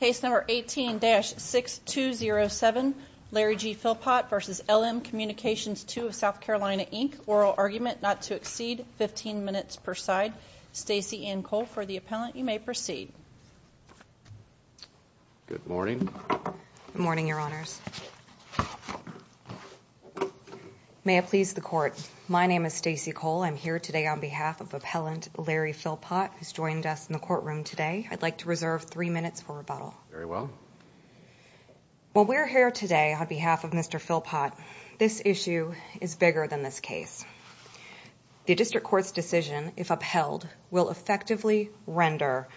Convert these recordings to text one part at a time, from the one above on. Case number 18-6207, Larry G. Philpot v. LM Communications II of SC, oral argument not to exceed 15 minutes per side. Stacey Ann Cole, for the appellant, you may proceed. Good morning. Good morning, Your Honors. May it please the Court, my name is Stacey Cole. I'm here today on behalf of Appellant Larry Philpot, who's joined us in the courtroom today. I'd like to reserve three minutes for rebuttal. Very well. While we're here today on behalf of Mr. Philpot, this issue is bigger than this case. The District Court's decision, if upheld, will effectively render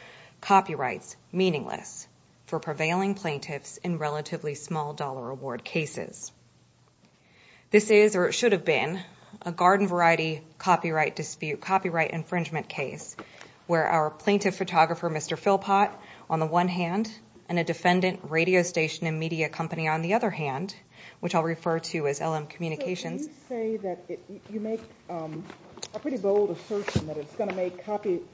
copyrights meaningless for prevailing plaintiffs in relatively small-dollar award cases. This is, or it should have been, a garden-variety copyright dispute, copyright infringement case, where our plaintiff photographer, Mr. Philpot, on the one hand, and a defendant, Radio Station & Media Company, on the other hand, which I'll refer to as LM Communications. So you say that you make a pretty bold assertion that it's going to make copyright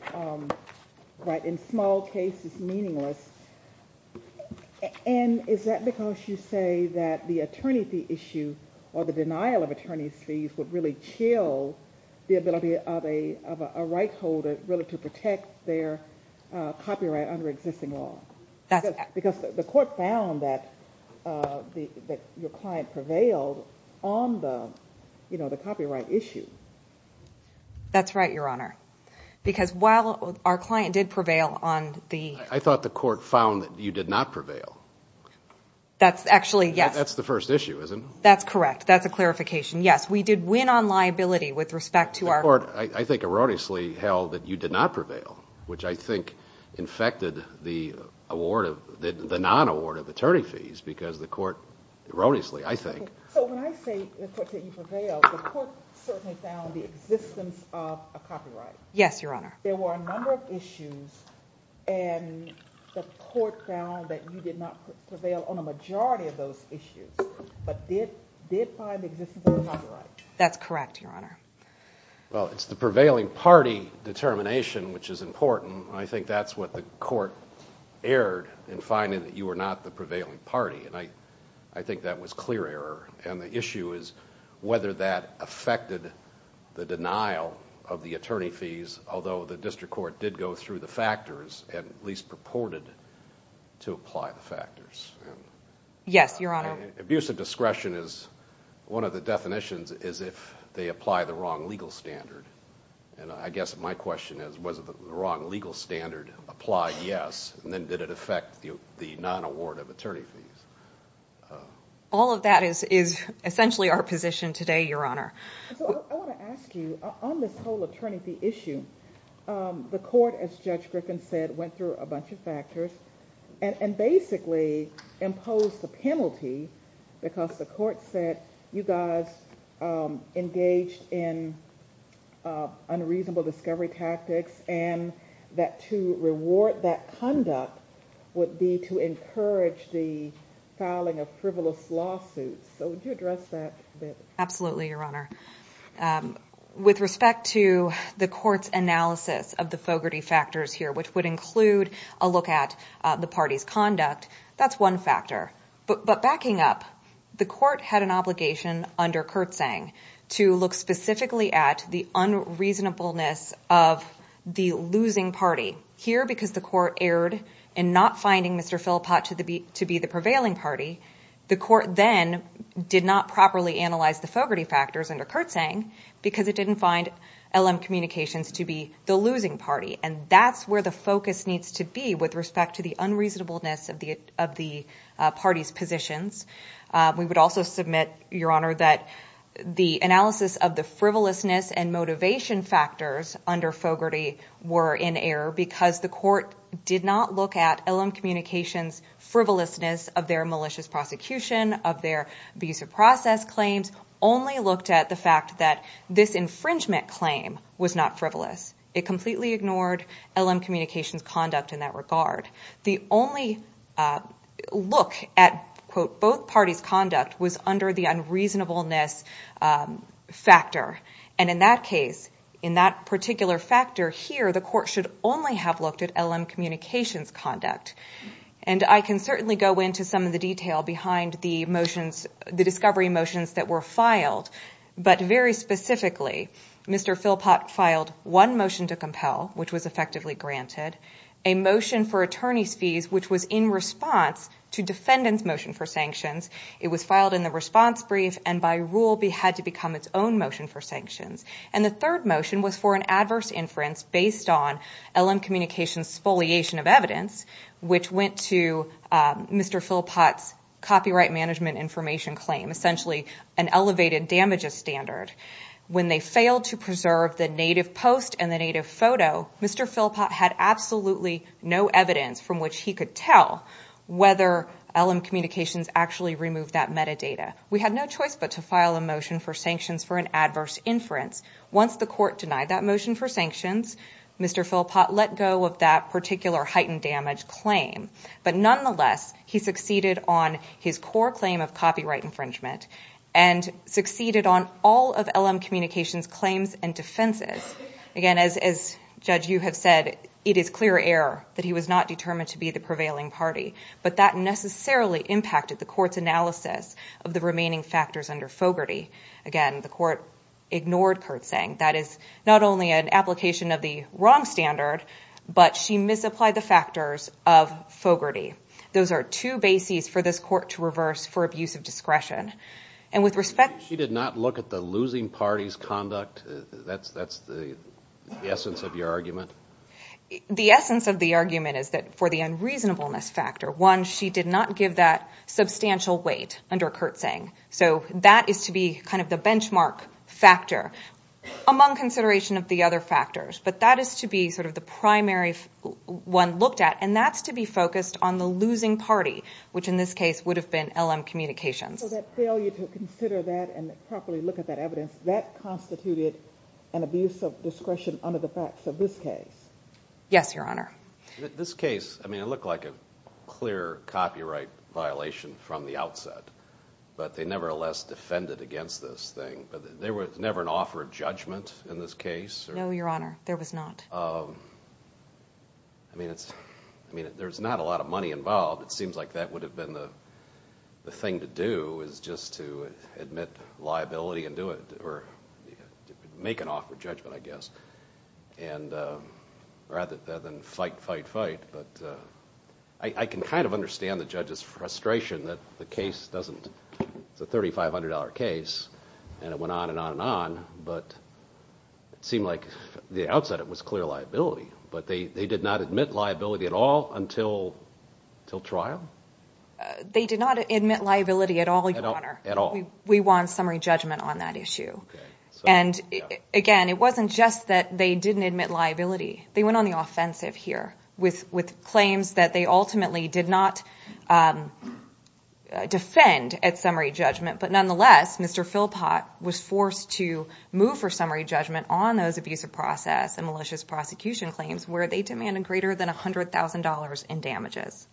in small cases meaningless. And is that because you say that the attorney fee issue, or the denial of attorney's fees, would really chill the ability of a right holder to protect their copyright under existing law? Because the Court found that your client prevailed on the copyright issue. That's right, Your Honor. Because while our client did prevail on the... I thought the Court found that you did not prevail. That's actually, yes. That's the first issue, isn't it? That's correct. That's a clarification. Yes, we did win on liability with respect to our... The Court, I think erroneously, held that you did not prevail, which I think infected the non-award of attorney fees, because the Court, erroneously, I think... So when I say that you prevailed, the Court certainly found the existence of a copyright. Yes, Your Honor. There were a number of issues, and the Court found that you did not prevail on a majority of those issues, but did find the existence of a copyright. That's correct, Your Honor. Well, it's the prevailing party determination which is important. I think that's what the Court erred in finding that you were not the prevailing party, and I think that was clear error. And the issue is whether that affected the denial of the attorney fees, although the District Court did go through the factors and at least purported to apply the factors. Yes, Your Honor. Abuse of discretion is one of the definitions is if they apply the wrong legal standard, and I guess my question is was the wrong legal standard applied? Yes. And then did it affect the non-award of attorney fees? All of that is essentially our position today, Your Honor. So I want to ask you, on this whole attorney fee issue, the Court, as Judge Griffin said, went through a bunch of factors and basically imposed the penalty because the Court said, you guys engaged in unreasonable discovery tactics, and that to reward that conduct would be to encourage the filing of frivolous lawsuits. So would you address that a bit? Absolutely, Your Honor. With respect to the Court's analysis of the Fogarty factors here, which would include a look at the party's conduct, that's one factor. But backing up, the Court had an obligation under Kurtzang to look specifically at the unreasonableness of the losing party. Here, because the Court erred in not finding Mr. Philpott to be the prevailing party, the Court then did not properly analyze the Fogarty factors under Kurtzang because it didn't find LM Communications to be the losing party. And that's where the focus needs to be with respect to the unreasonableness of the party's positions. We would also submit, Your Honor, that the analysis of the frivolousness and motivation factors under Fogarty were in error because the Court did not look at LM Communications' frivolousness of their malicious prosecution, of their abusive process claims, only looked at the fact that this infringement claim was not frivolous. It completely ignored LM Communications' conduct in that regard. The only look at, quote, both parties' conduct was under the unreasonableness factor. And in that case, in that particular factor here, the Court should only have looked at LM Communications' conduct. And I can certainly go into some of the detail behind the motions, the discovery motions that were filed. But very specifically, Mr. Philpott filed one motion to compel, which was effectively granted, a motion for attorney's fees, which was in response to defendant's motion for sanctions. It was filed in the response brief and, by rule, had to become its own motion for sanctions. And the third motion was for an adverse inference based on LM Communications' spoliation of evidence, which went to Mr. Philpott's copyright management information claim, essentially an elevated damages standard. When they failed to preserve the native post and the native photo, Mr. Philpott had absolutely no evidence from which he could tell whether LM Communications actually removed that metadata. We had no choice but to file a motion for sanctions for an adverse inference. Once the Court denied that motion for sanctions, Mr. Philpott let go of that particular heightened damage claim. But nonetheless, he succeeded on his core claim of copyright infringement and succeeded on all of LM Communications' claims and defenses. Again, as, Judge, you have said, it is clear error that he was not determined to be the prevailing party. But that necessarily impacted the Court's analysis of the remaining factors under Fogarty. Again, the Court ignored Kurtz's saying. That is not only an application of the wrong standard, but she misapplied the factors of Fogarty. Those are two bases for this Court to reverse for abuse of discretion. She did not look at the losing party's conduct? That's the essence of your argument? The essence of the argument is that for the unreasonableness factor, one, she did not give that substantial weight under Kurtz's saying. So that is to be kind of the benchmark factor among consideration of the other factors. But that is to be sort of the primary one looked at. And that's to be focused on the losing party, which in this case would have been LM Communications. So that failure to consider that and properly look at that evidence, that constituted an abuse of discretion under the facts of this case? Yes, Your Honor. This case, I mean, it looked like a clear copyright violation from the outset. But they nevertheless defended against this thing. There was never an offer of judgment in this case? No, Your Honor. There was not. I mean, there's not a lot of money involved. It seems like that would have been the thing to do is just to admit liability and do it, or make an offer of judgment, I guess, rather than fight, fight, fight. But I can kind of understand the judge's frustration that the case doesn't – it's a $3,500 case, and it went on and on and on. But it seemed like the outset it was clear liability. But they did not admit liability at all until trial? They did not admit liability at all, Your Honor. At all? We won summary judgment on that issue. And, again, it wasn't just that they didn't admit liability. They went on the offensive here with claims that they ultimately did not defend at summary judgment. But, nonetheless, Mr. Philpott was forced to move for summary judgment on those abusive process and malicious prosecution claims where they demanded greater than $100,000 in damages.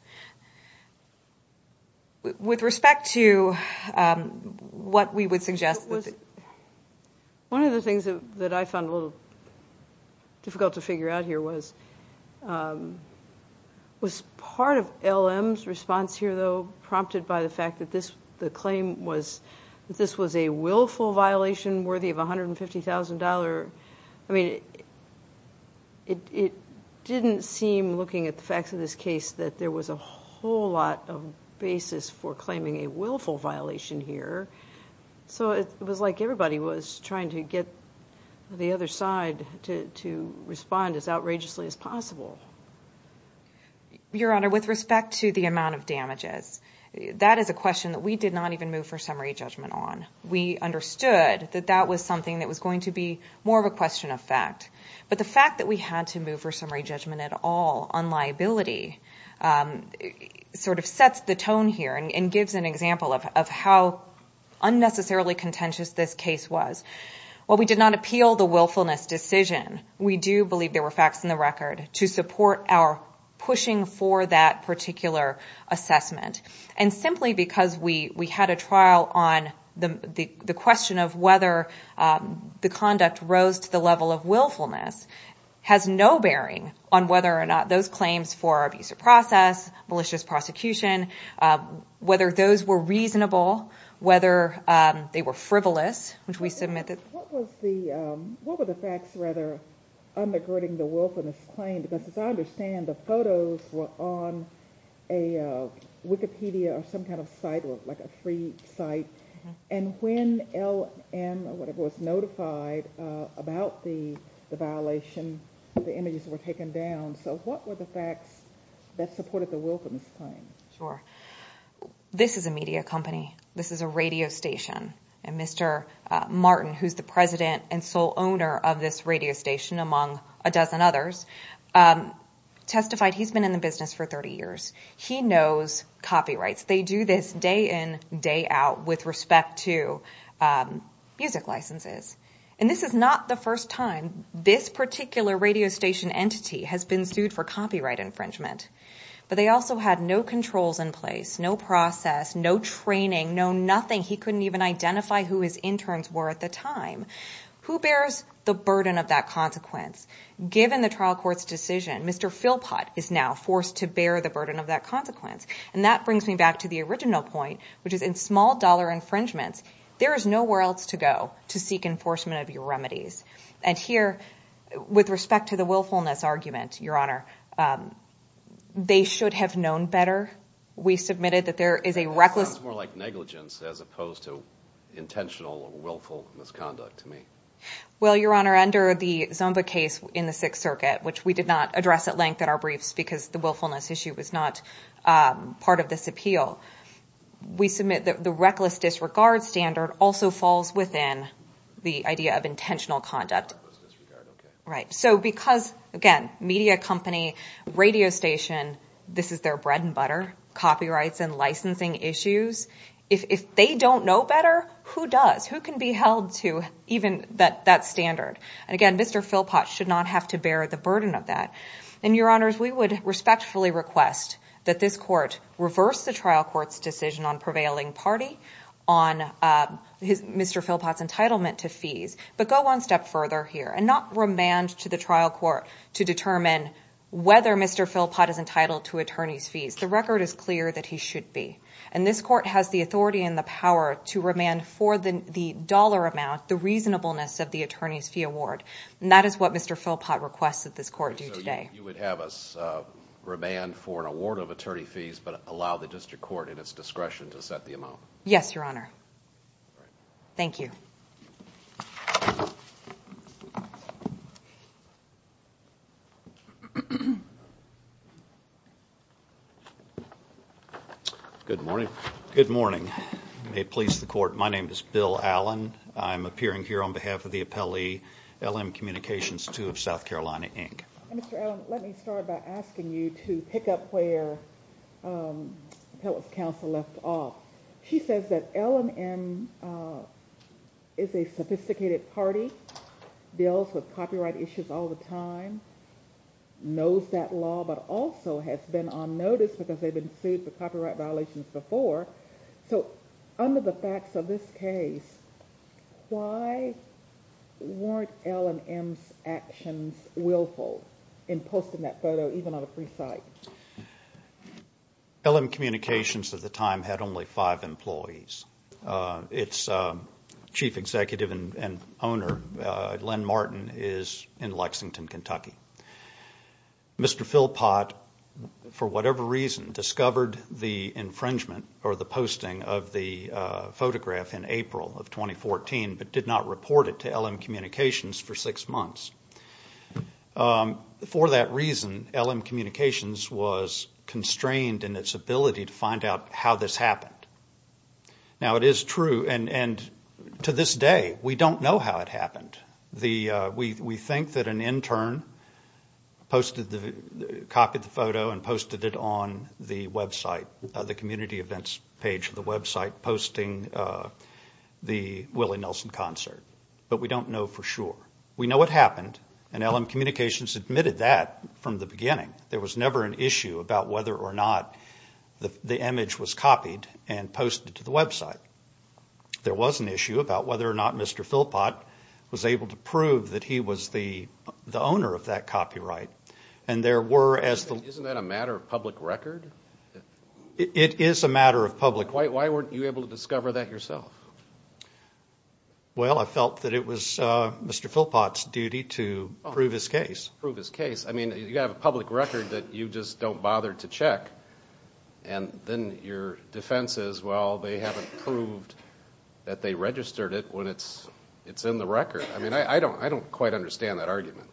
With respect to what we would suggest – One of the things that I found a little difficult to figure out here was part of LM's response here, though, prompted by the fact that the claim was that this was a willful violation worthy of $150,000. I mean, it didn't seem, looking at the facts of this case, that there was a whole lot of basis for claiming a willful violation here. So it was like everybody was trying to get the other side to respond as outrageously as possible. Your Honor, with respect to the amount of damages, that is a question that we did not even move for summary judgment on. We understood that that was something that was going to be more of a question of fact. But the fact that we had to move for summary judgment at all on liability sort of sets the tone here and gives an example of how unnecessarily contentious this case was. While we did not appeal the willfulness decision, we do believe there were facts in the record to support our pushing for that particular assessment. And simply because we had a trial on the question of whether the conduct rose to the level of willfulness has no bearing on whether or not those claims for abuse of process, malicious prosecution, whether those were reasonable, whether they were frivolous, which we submit that – What were the facts, rather, undergirding the willfulness claim? Because as I understand, the photos were on a Wikipedia or some kind of site, like a free site. And when LM was notified about the violation, the images were taken down. So what were the facts that supported the willfulness claim? This is a media company. This is a radio station. And Mr. Martin, who is the president and sole owner of this radio station, among a dozen others, testified he's been in the business for 30 years. He knows copyrights. They do this day in, day out with respect to music licenses. And this is not the first time this particular radio station entity has been sued for copyright infringement. But they also had no controls in place, no process, no training, no nothing. He couldn't even identify who his interns were at the time. Who bears the burden of that consequence? Given the trial court's decision, Mr. Philpott is now forced to bear the burden of that consequence. And that brings me back to the original point, which is in small dollar infringements, there is nowhere else to go to seek enforcement of your remedies. And here, with respect to the willfulness argument, Your Honor, they should have known better. We submitted that there is a reckless... It sounds more like negligence as opposed to intentional or willful misconduct to me. Well, Your Honor, under the Zumba case in the Sixth Circuit, which we did not address at length in our briefs because the willfulness issue was not part of this appeal, we submit that the reckless disregard standard also falls within the idea of intentional conduct. Right. So because, again, media company, radio station, this is their bread and butter, copyrights and licensing issues. If they don't know better, who does? Who can be held to even that standard? And again, Mr. Philpott should not have to bear the burden of that. And Your Honors, we would respectfully request that this court reverse the trial court's decision on prevailing party on Mr. Philpott's entitlement to fees, but go one step further here and not remand to the trial court to determine whether Mr. Philpott is entitled to attorney's fees. The record is clear that he should be. And this court has the authority and the power to remand for the dollar amount the reasonableness of the attorney's fee award. And that is what Mr. Philpott requests that this court do today. So you would have us remand for an award of attorney fees but allow the district court at its discretion to set the amount? Yes, Your Honor. Thank you. Thank you. Good morning. Good morning. May it please the court, my name is Bill Allen. I'm appearing here on behalf of the appellee, LM Communications II of South Carolina, Inc. Mr. Allen, let me start by asking you to pick up where appellate counsel left off. She says that LM is a sophisticated party, deals with copyright issues all the time, knows that law, but also has been on notice because they've been sued for copyright violations before. So under the facts of this case, why weren't LM's actions willful in posting that photo even on a free site? LM Communications at the time had only five employees. Its chief executive and owner, Len Martin, is in Lexington, Kentucky. Mr. Philpott, for whatever reason, discovered the infringement or the posting of the photograph in April of 2014 but did not report it to LM Communications for six months. For that reason, LM Communications was constrained in its ability to find out how this happened. Now, it is true, and to this day, we don't know how it happened. We think that an intern copied the photo and posted it on the website, the community events page of the website posting the Willie Nelson concert, but we don't know for sure. We know it happened, and LM Communications admitted that from the beginning. There was never an issue about whether or not the image was copied and posted to the website. There was an issue about whether or not Mr. Philpott was able to prove that he was the owner of that copyright. And there were, as the- Isn't that a matter of public record? It is a matter of public record. Why weren't you able to discover that yourself? Well, I felt that it was Mr. Philpott's duty to prove his case. Prove his case. I mean, you have a public record that you just don't bother to check, and then your defense is, well, they haven't proved that they registered it when it's in the record. I mean, I don't quite understand that argument.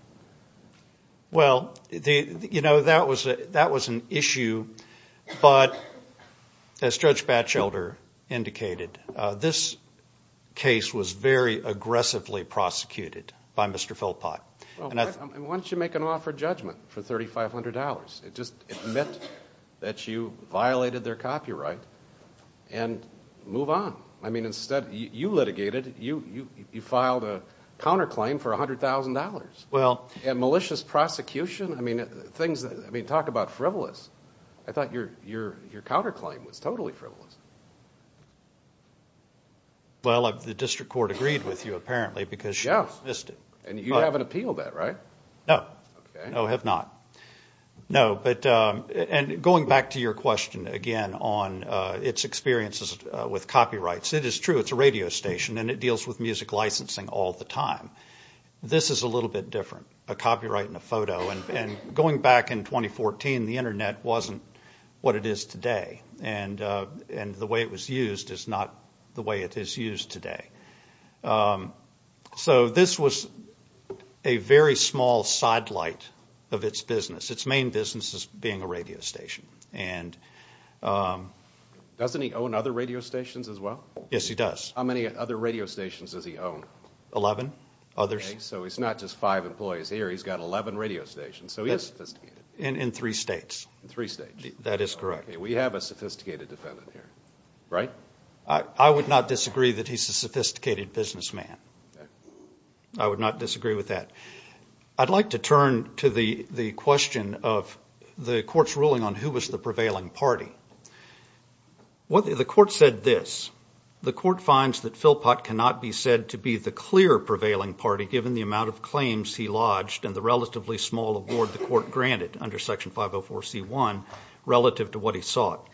Well, you know, that was an issue, but as Judge Batchelder indicated, this case was very aggressively prosecuted by Mr. Philpott. Why don't you make an offer of judgment for $3,500? Just admit that you violated their copyright and move on. I mean, instead, you litigated. You filed a counterclaim for $100,000. Well- And malicious prosecution? I mean, talk about frivolous. I thought your counterclaim was totally frivolous. Well, the district court agreed with you, apparently, because you dismissed it. And you haven't appealed that, right? No. Okay. No, I have not. No, but going back to your question, again, on its experiences with copyrights, it is true. It's a radio station, and it deals with music licensing all the time. This is a little bit different, a copyright and a photo. And going back in 2014, the Internet wasn't what it is today, and the way it was used is not the way it is used today. So this was a very small sidelight of its business. Its main business is being a radio station. Doesn't he own other radio stations as well? Yes, he does. How many other radio stations does he own? Eleven. Okay, so he's not just five employees here. He's got 11 radio stations. So he is sophisticated. In three states. In three states. That is correct. Okay, we have a sophisticated defendant here, right? I would not disagree that he's a sophisticated businessman. I would not disagree with that. I'd like to turn to the question of the court's ruling on who was the prevailing party. The court said this. The court finds that Philpott cannot be said to be the clear prevailing party, given the amount of claims he lodged and the relatively small award the court granted under Section 504C1 relative to what he sought.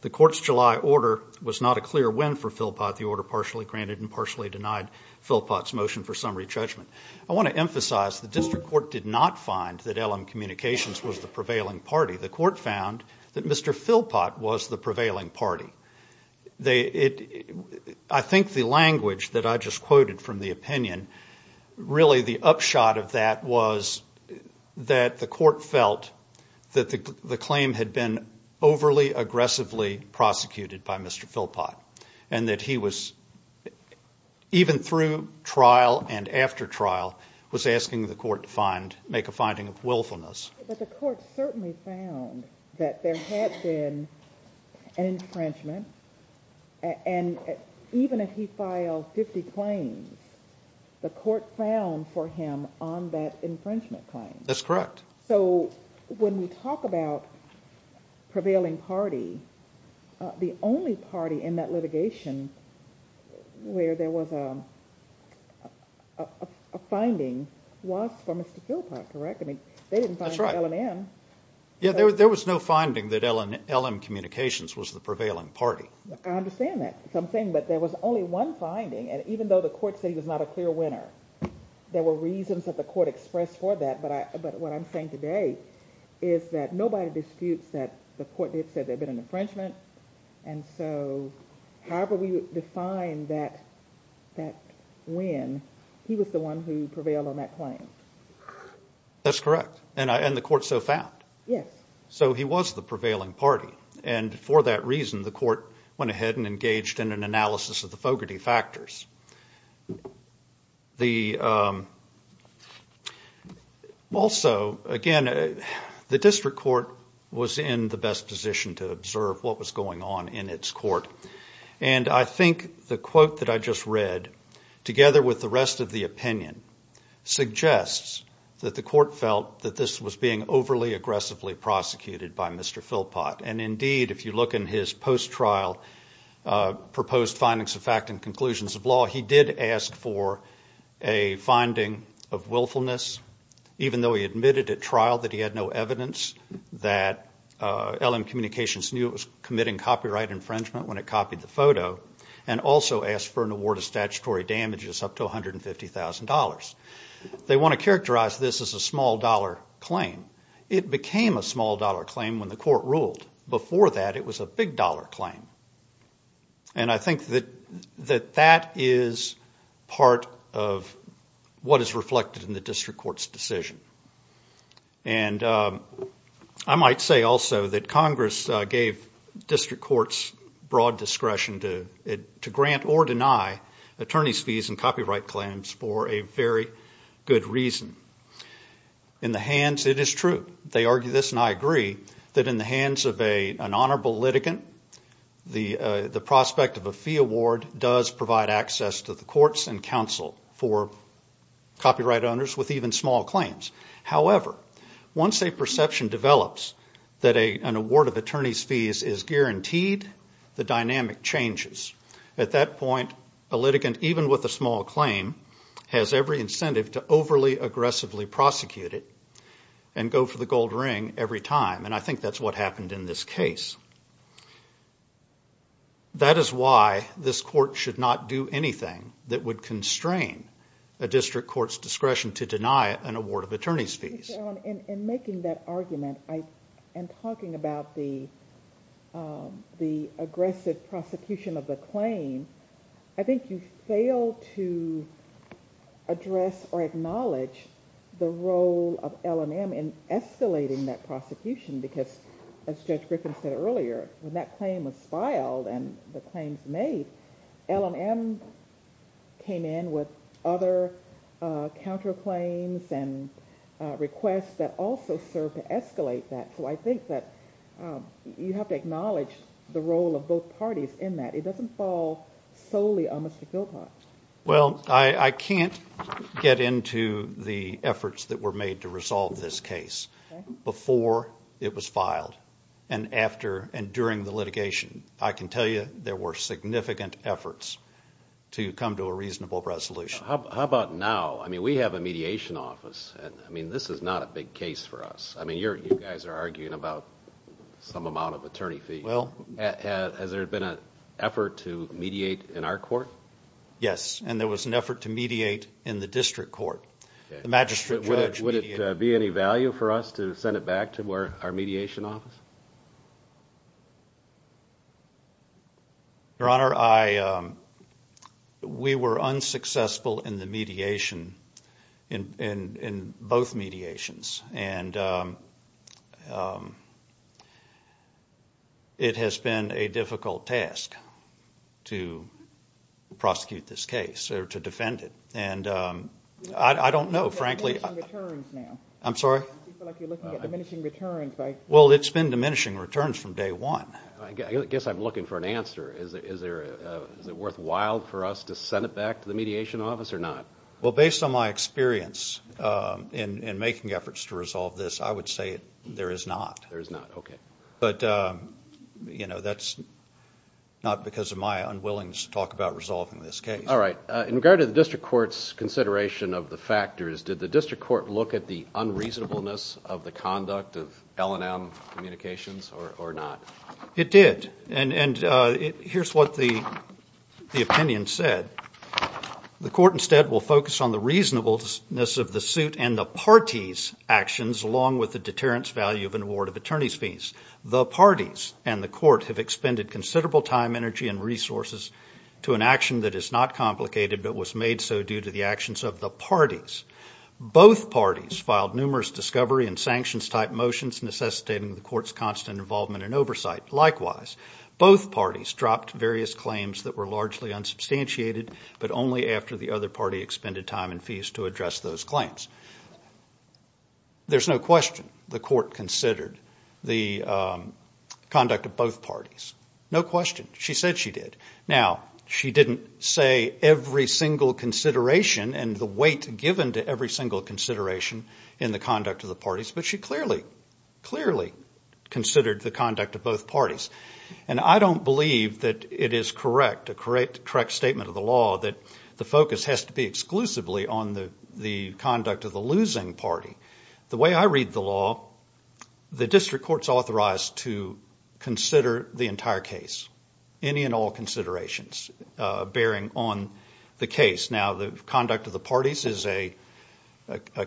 The court's July order was not a clear win for Philpott. The order partially granted and partially denied Philpott's motion for summary judgment. I want to emphasize the district court did not find that LM Communications was the prevailing party. The court found that Mr. Philpott was the prevailing party. I think the language that I just quoted from the opinion, really the upshot of that was that the court felt that the claim had been overly aggressively prosecuted by Mr. Philpott and that he was, even through trial and after trial, was asking the court to make a finding of willfulness. But the court certainly found that there had been an infringement, and even if he filed 50 claims, the court found for him on that infringement claim. That's correct. So when we talk about prevailing party, the only party in that litigation where there was a finding was for Mr. Philpott, correct? That's right. There was no finding that LM Communications was the prevailing party. I understand that. But there was only one finding, and even though the court said he was not a clear winner, there were reasons that the court expressed for that. But what I'm saying today is that nobody disputes that the court did say there had been an infringement, and so however we define that win, he was the one who prevailed on that claim. That's correct, and the court so found. Yes. So he was the prevailing party, and for that reason the court went ahead and engaged in an analysis of the Fogarty factors. Also, again, the district court was in the best position to observe what was going on in its court, and I think the quote that I just read, together with the rest of the opinion, suggests that the court felt that this was being overly aggressively prosecuted by Mr. Philpott, and indeed if you look in his post-trial proposed findings of fact and conclusions of law, he did ask for a finding of willfulness, even though he admitted at trial that he had no evidence that LM Communications knew that it was committing copyright infringement when it copied the photo, and also asked for an award of statutory damages up to $150,000. They want to characterize this as a small-dollar claim. It became a small-dollar claim when the court ruled. Before that, it was a big-dollar claim, and I think that that is part of what is reflected in the district court's decision. And I might say also that Congress gave district courts broad discretion to grant or deny attorneys' fees and copyright claims for a very good reason. In the hands, it is true. They argue this, and I agree, that in the hands of an honorable litigant, the prospect of a fee award does provide access to the courts and counsel for copyright owners with even small claims. However, once a perception develops that an award of attorney's fees is guaranteed, the dynamic changes. At that point, a litigant, even with a small claim, has every incentive to overly aggressively prosecute it and go for the gold ring every time, and I think that's what happened in this case. That is why this court should not do anything that would constrain a district court's discretion to deny an award of attorney's fees. In making that argument and talking about the aggressive prosecution of the claim, I think you fail to address or acknowledge the role of L&M in escalating that prosecution because, as Judge Griffin said earlier, when that claim was filed and the claims made, L&M came in with other counterclaims and requests that also served to escalate that. So I think that you have to acknowledge the role of both parties in that. It doesn't fall solely on Mr. Philpott. Well, I can't get into the efforts that were made to resolve this case before it was filed and after and during the litigation. I can tell you there were significant efforts to come to a reasonable resolution. How about now? I mean, we have a mediation office. I mean, this is not a big case for us. I mean, you guys are arguing about some amount of attorney fees. Has there been an effort to mediate in our court? Yes, and there was an effort to mediate in the district court. Would it be any value for us to send it back to our mediation office? Your Honor, we were unsuccessful in the mediation, in both mediations. And it has been a difficult task to prosecute this case or to defend it. And I don't know, frankly. You're talking about diminishing returns now. I'm sorry? I feel like you're looking at diminishing returns. Well, it's been diminishing returns from day one. I guess I'm looking for an answer. Is it worthwhile for us to send it back to the mediation office or not? Well, based on my experience in making efforts to resolve this, I would say there is not. There is not. Okay. But, you know, that's not because of my unwillingness to talk about resolving this case. All right. In regard to the district court's consideration of the factors, did the district court look at the unreasonableness of the conduct of L&M communications or not? It did. And here's what the opinion said. The court instead will focus on the reasonableness of the suit and the parties' actions along with the deterrence value of an award of attorney's fees. The parties and the court have expended considerable time, energy, and resources to an action that is not complicated but was made so due to the actions of the parties. Both parties filed numerous discovery and sanctions-type motions necessitating the court's constant involvement and oversight. Likewise, both parties dropped various claims that were largely unsubstantiated but only after the other party expended time and fees to address those claims. There's no question the court considered the conduct of both parties. No question. She said she did. Now, she didn't say every single consideration and the weight given to every single consideration in the conduct of the parties, but she clearly, clearly considered the conduct of both parties. And I don't believe that it is correct, a correct statement of the law, that the focus has to be exclusively on the conduct of the losing party. The way I read the law, the district court's authorized to consider the entire case, any and all considerations bearing on the case. Now, the conduct of the parties is a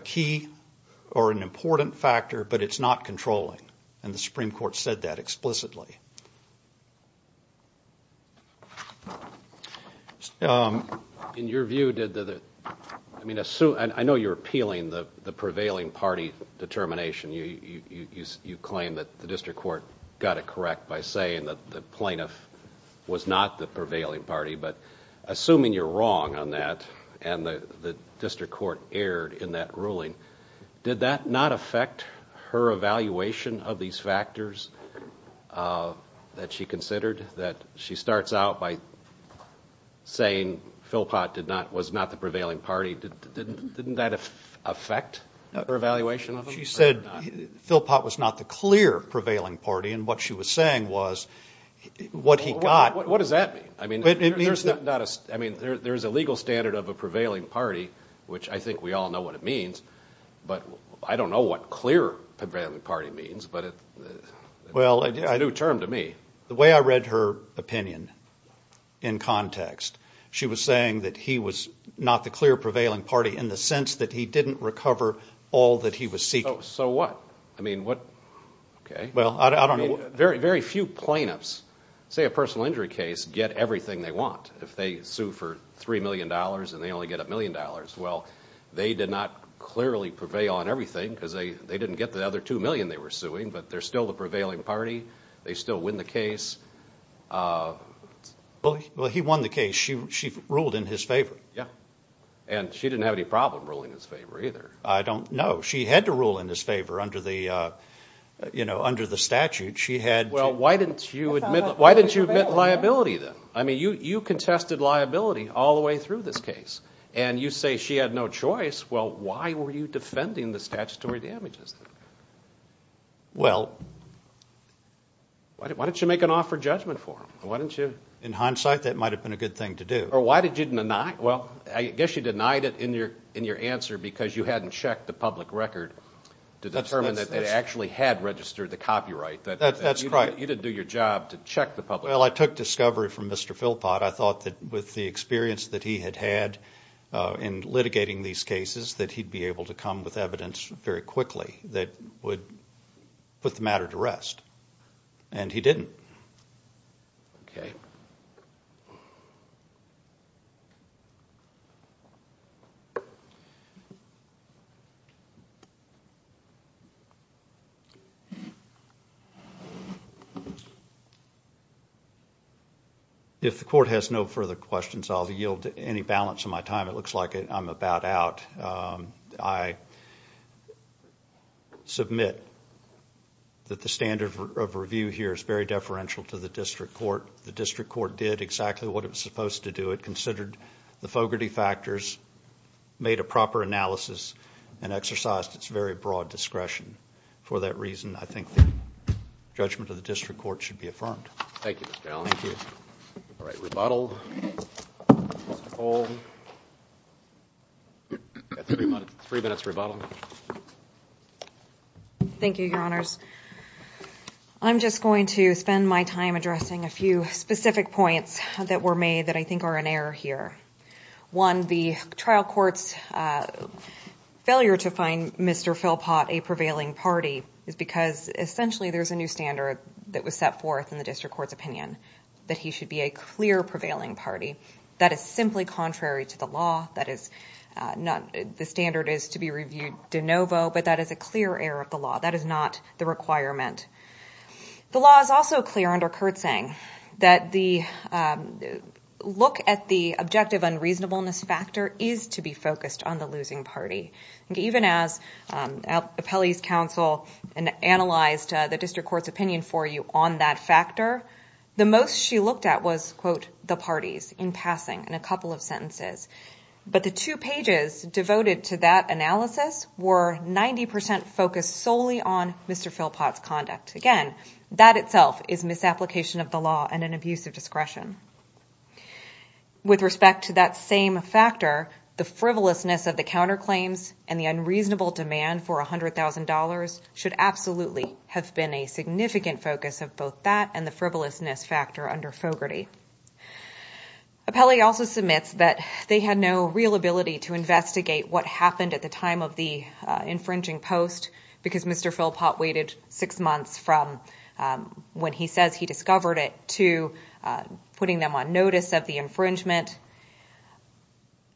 key or an important factor, but it's not controlling, and the Supreme Court said that explicitly. In your view, did the, I mean, I know you're appealing the prevailing party determination. You claim that the district court got it correct by saying that the plaintiff was not the prevailing party, but assuming you're wrong on that and the district court erred in that ruling, did that not affect her evaluation of these factors that she considered, that she starts out by saying Philpott was not the prevailing party? Didn't that affect her evaluation of them? She said Philpott was not the clear prevailing party, and what she was saying was what he got. What does that mean? I mean, there's a legal standard of a prevailing party, which I think we all know what it means, but I don't know what clear prevailing party means, but it's a new term to me. Well, the way I read her opinion in context, she was saying that he was not the clear prevailing party in the sense that he didn't recover all that he was seeking. So what? Okay. Well, I don't know. Very few plaintiffs, say a personal injury case, get everything they want. If they sue for $3 million and they only get a million dollars, well, they did not clearly prevail on everything because they didn't get the other $2 million they were suing, but they're still the prevailing party. They still win the case. Well, he won the case. She ruled in his favor. Yeah, and she didn't have any problem ruling in his favor either. I don't know. She had to rule in his favor under the statute. She had to. Well, why didn't you admit liability then? I mean, you contested liability all the way through this case, and you say she had no choice. Well, why were you defending the statutory damages? Well. Why didn't you make an offer of judgment for him? In hindsight, that might have been a good thing to do. Well, I guess you denied it in your answer because you hadn't checked the public record to determine that they actually had registered the copyright. That's correct. You didn't do your job to check the public record. Well, I took discovery from Mr. Philpott. I thought that with the experience that he had had in litigating these cases, that he'd be able to come with evidence very quickly that would put the matter to rest, and he didn't. Okay. If the Court has no further questions, I'll yield any balance of my time. It looks like I'm about out. I submit that the standard of review here is very deferential to the district court. The district court did exactly what it was supposed to do. It considered the fogarty factors, made a proper analysis, and exercised its very broad discretion. For that reason, I think the judgment of the district court should be affirmed. Thank you, Mr. Allen. Thank you. All right. Three minutes for rebuttal. Thank you, Your Honors. I'm just going to spend my time addressing a few specific points that were made that I think are in error here. One, the trial court's failure to find Mr. Philpott a prevailing party is because essentially there's a new standard that was set forth in the district court's opinion that he should be a clear prevailing party. That is simply contrary to the law. The standard is to be reviewed de novo, but that is a clear error of the law. That is not the requirement. The law is also clear under Kertzing that the look at the objective unreasonableness factor is to be focused on the losing party. Even as appellees counsel analyzed the district court's opinion for you on that factor, the most she looked at was, quote, the parties in passing in a couple of sentences. But the two pages devoted to that analysis were 90% focused solely on Mr. Philpott's conduct. Again, that itself is misapplication of the law and an abuse of discretion. With respect to that same factor, the frivolousness of the counterclaims and the unreasonable demand for $100,000 should absolutely have been a significant focus of both that and the frivolousness factor under Fogarty. Appellee also submits that they had no real ability to investigate what happened at the time of the infringing post because Mr. Philpott waited six months from when he says he discovered it to putting them on notice of the infringement.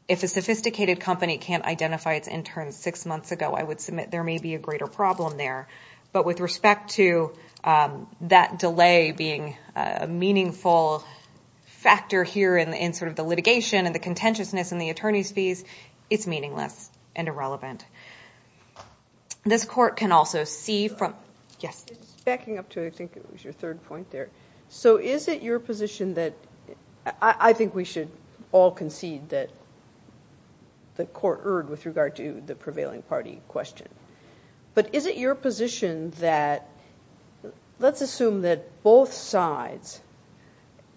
If a sophisticated company can't identify its interns six months ago, I would submit there may be a greater problem there. But with respect to that delay being a meaningful factor here in sort of the litigation and the contentiousness in the attorney's fees, it's meaningless and irrelevant. This court can also see from-yes? Backing up to I think it was your third point there. So is it your position that I think we should all concede that the court erred with regard to the prevailing party question. But is it your position that let's assume that both sides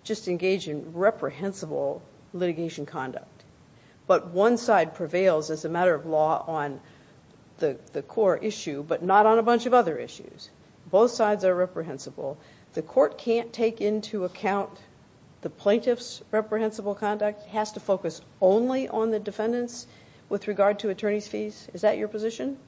just engage in reprehensible litigation conduct but one side prevails as a matter of law on the core issue but not on a bunch of other issues. Both sides are reprehensible. The court can't take into account the plaintiff's reprehensible conduct, has to focus only on the defendants with regard to attorney's fees. Is that your position?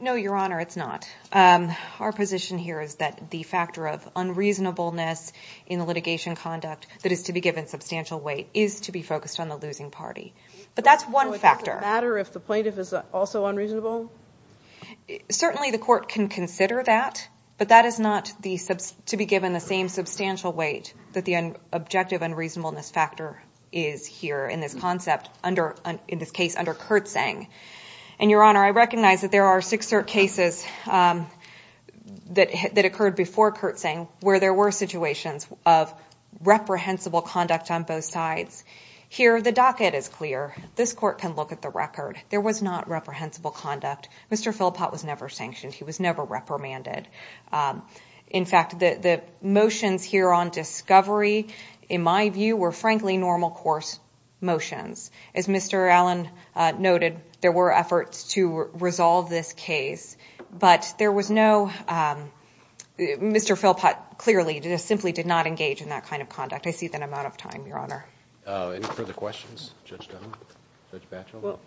No, Your Honor, it's not. Our position here is that the factor of unreasonableness in the litigation conduct that is to be given substantial weight is to be focused on the losing party. But that's one factor. So it doesn't matter if the plaintiff is also unreasonable? Certainly the court can consider that, but that is not to be given the same substantial weight that the objective unreasonableness factor is here in this concept, in this case under Kertzing. Your Honor, I recognize that there are six cases that occurred before Kertzing where there were situations of reprehensible conduct on both sides. Here the docket is clear. This court can look at the record. There was not reprehensible conduct. Mr. Philpott was never sanctioned. He was never reprimanded. In fact, the motions here on discovery, in my view, were frankly normal course motions. As Mr. Allen noted, there were efforts to resolve this case, but there was no Mr. Philpott clearly simply did not engage in that kind of conduct. I see that I'm out of time, Your Honor. Any further questions? Judge Stone? Judge Batchel?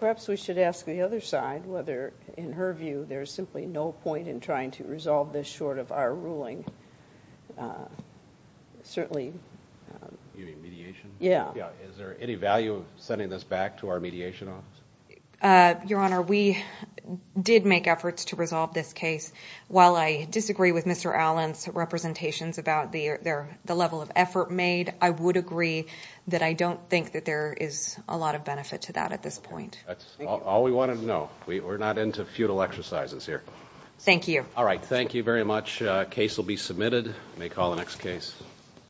Perhaps we should ask the other side whether, in her view, there is simply no point in trying to resolve this short of our ruling. Certainly. You mean mediation? Yeah. Is there any value of sending this back to our mediation office? Your Honor, we did make efforts to resolve this case. While I disagree with Mr. Allen's representations about the level of effort made, I would agree that I don't think that there is a lot of benefit to that at this point. That's all we wanted to know. We're not into futile exercises here. Thank you. All right. Thank you very much. The case will be submitted. We may call the next case.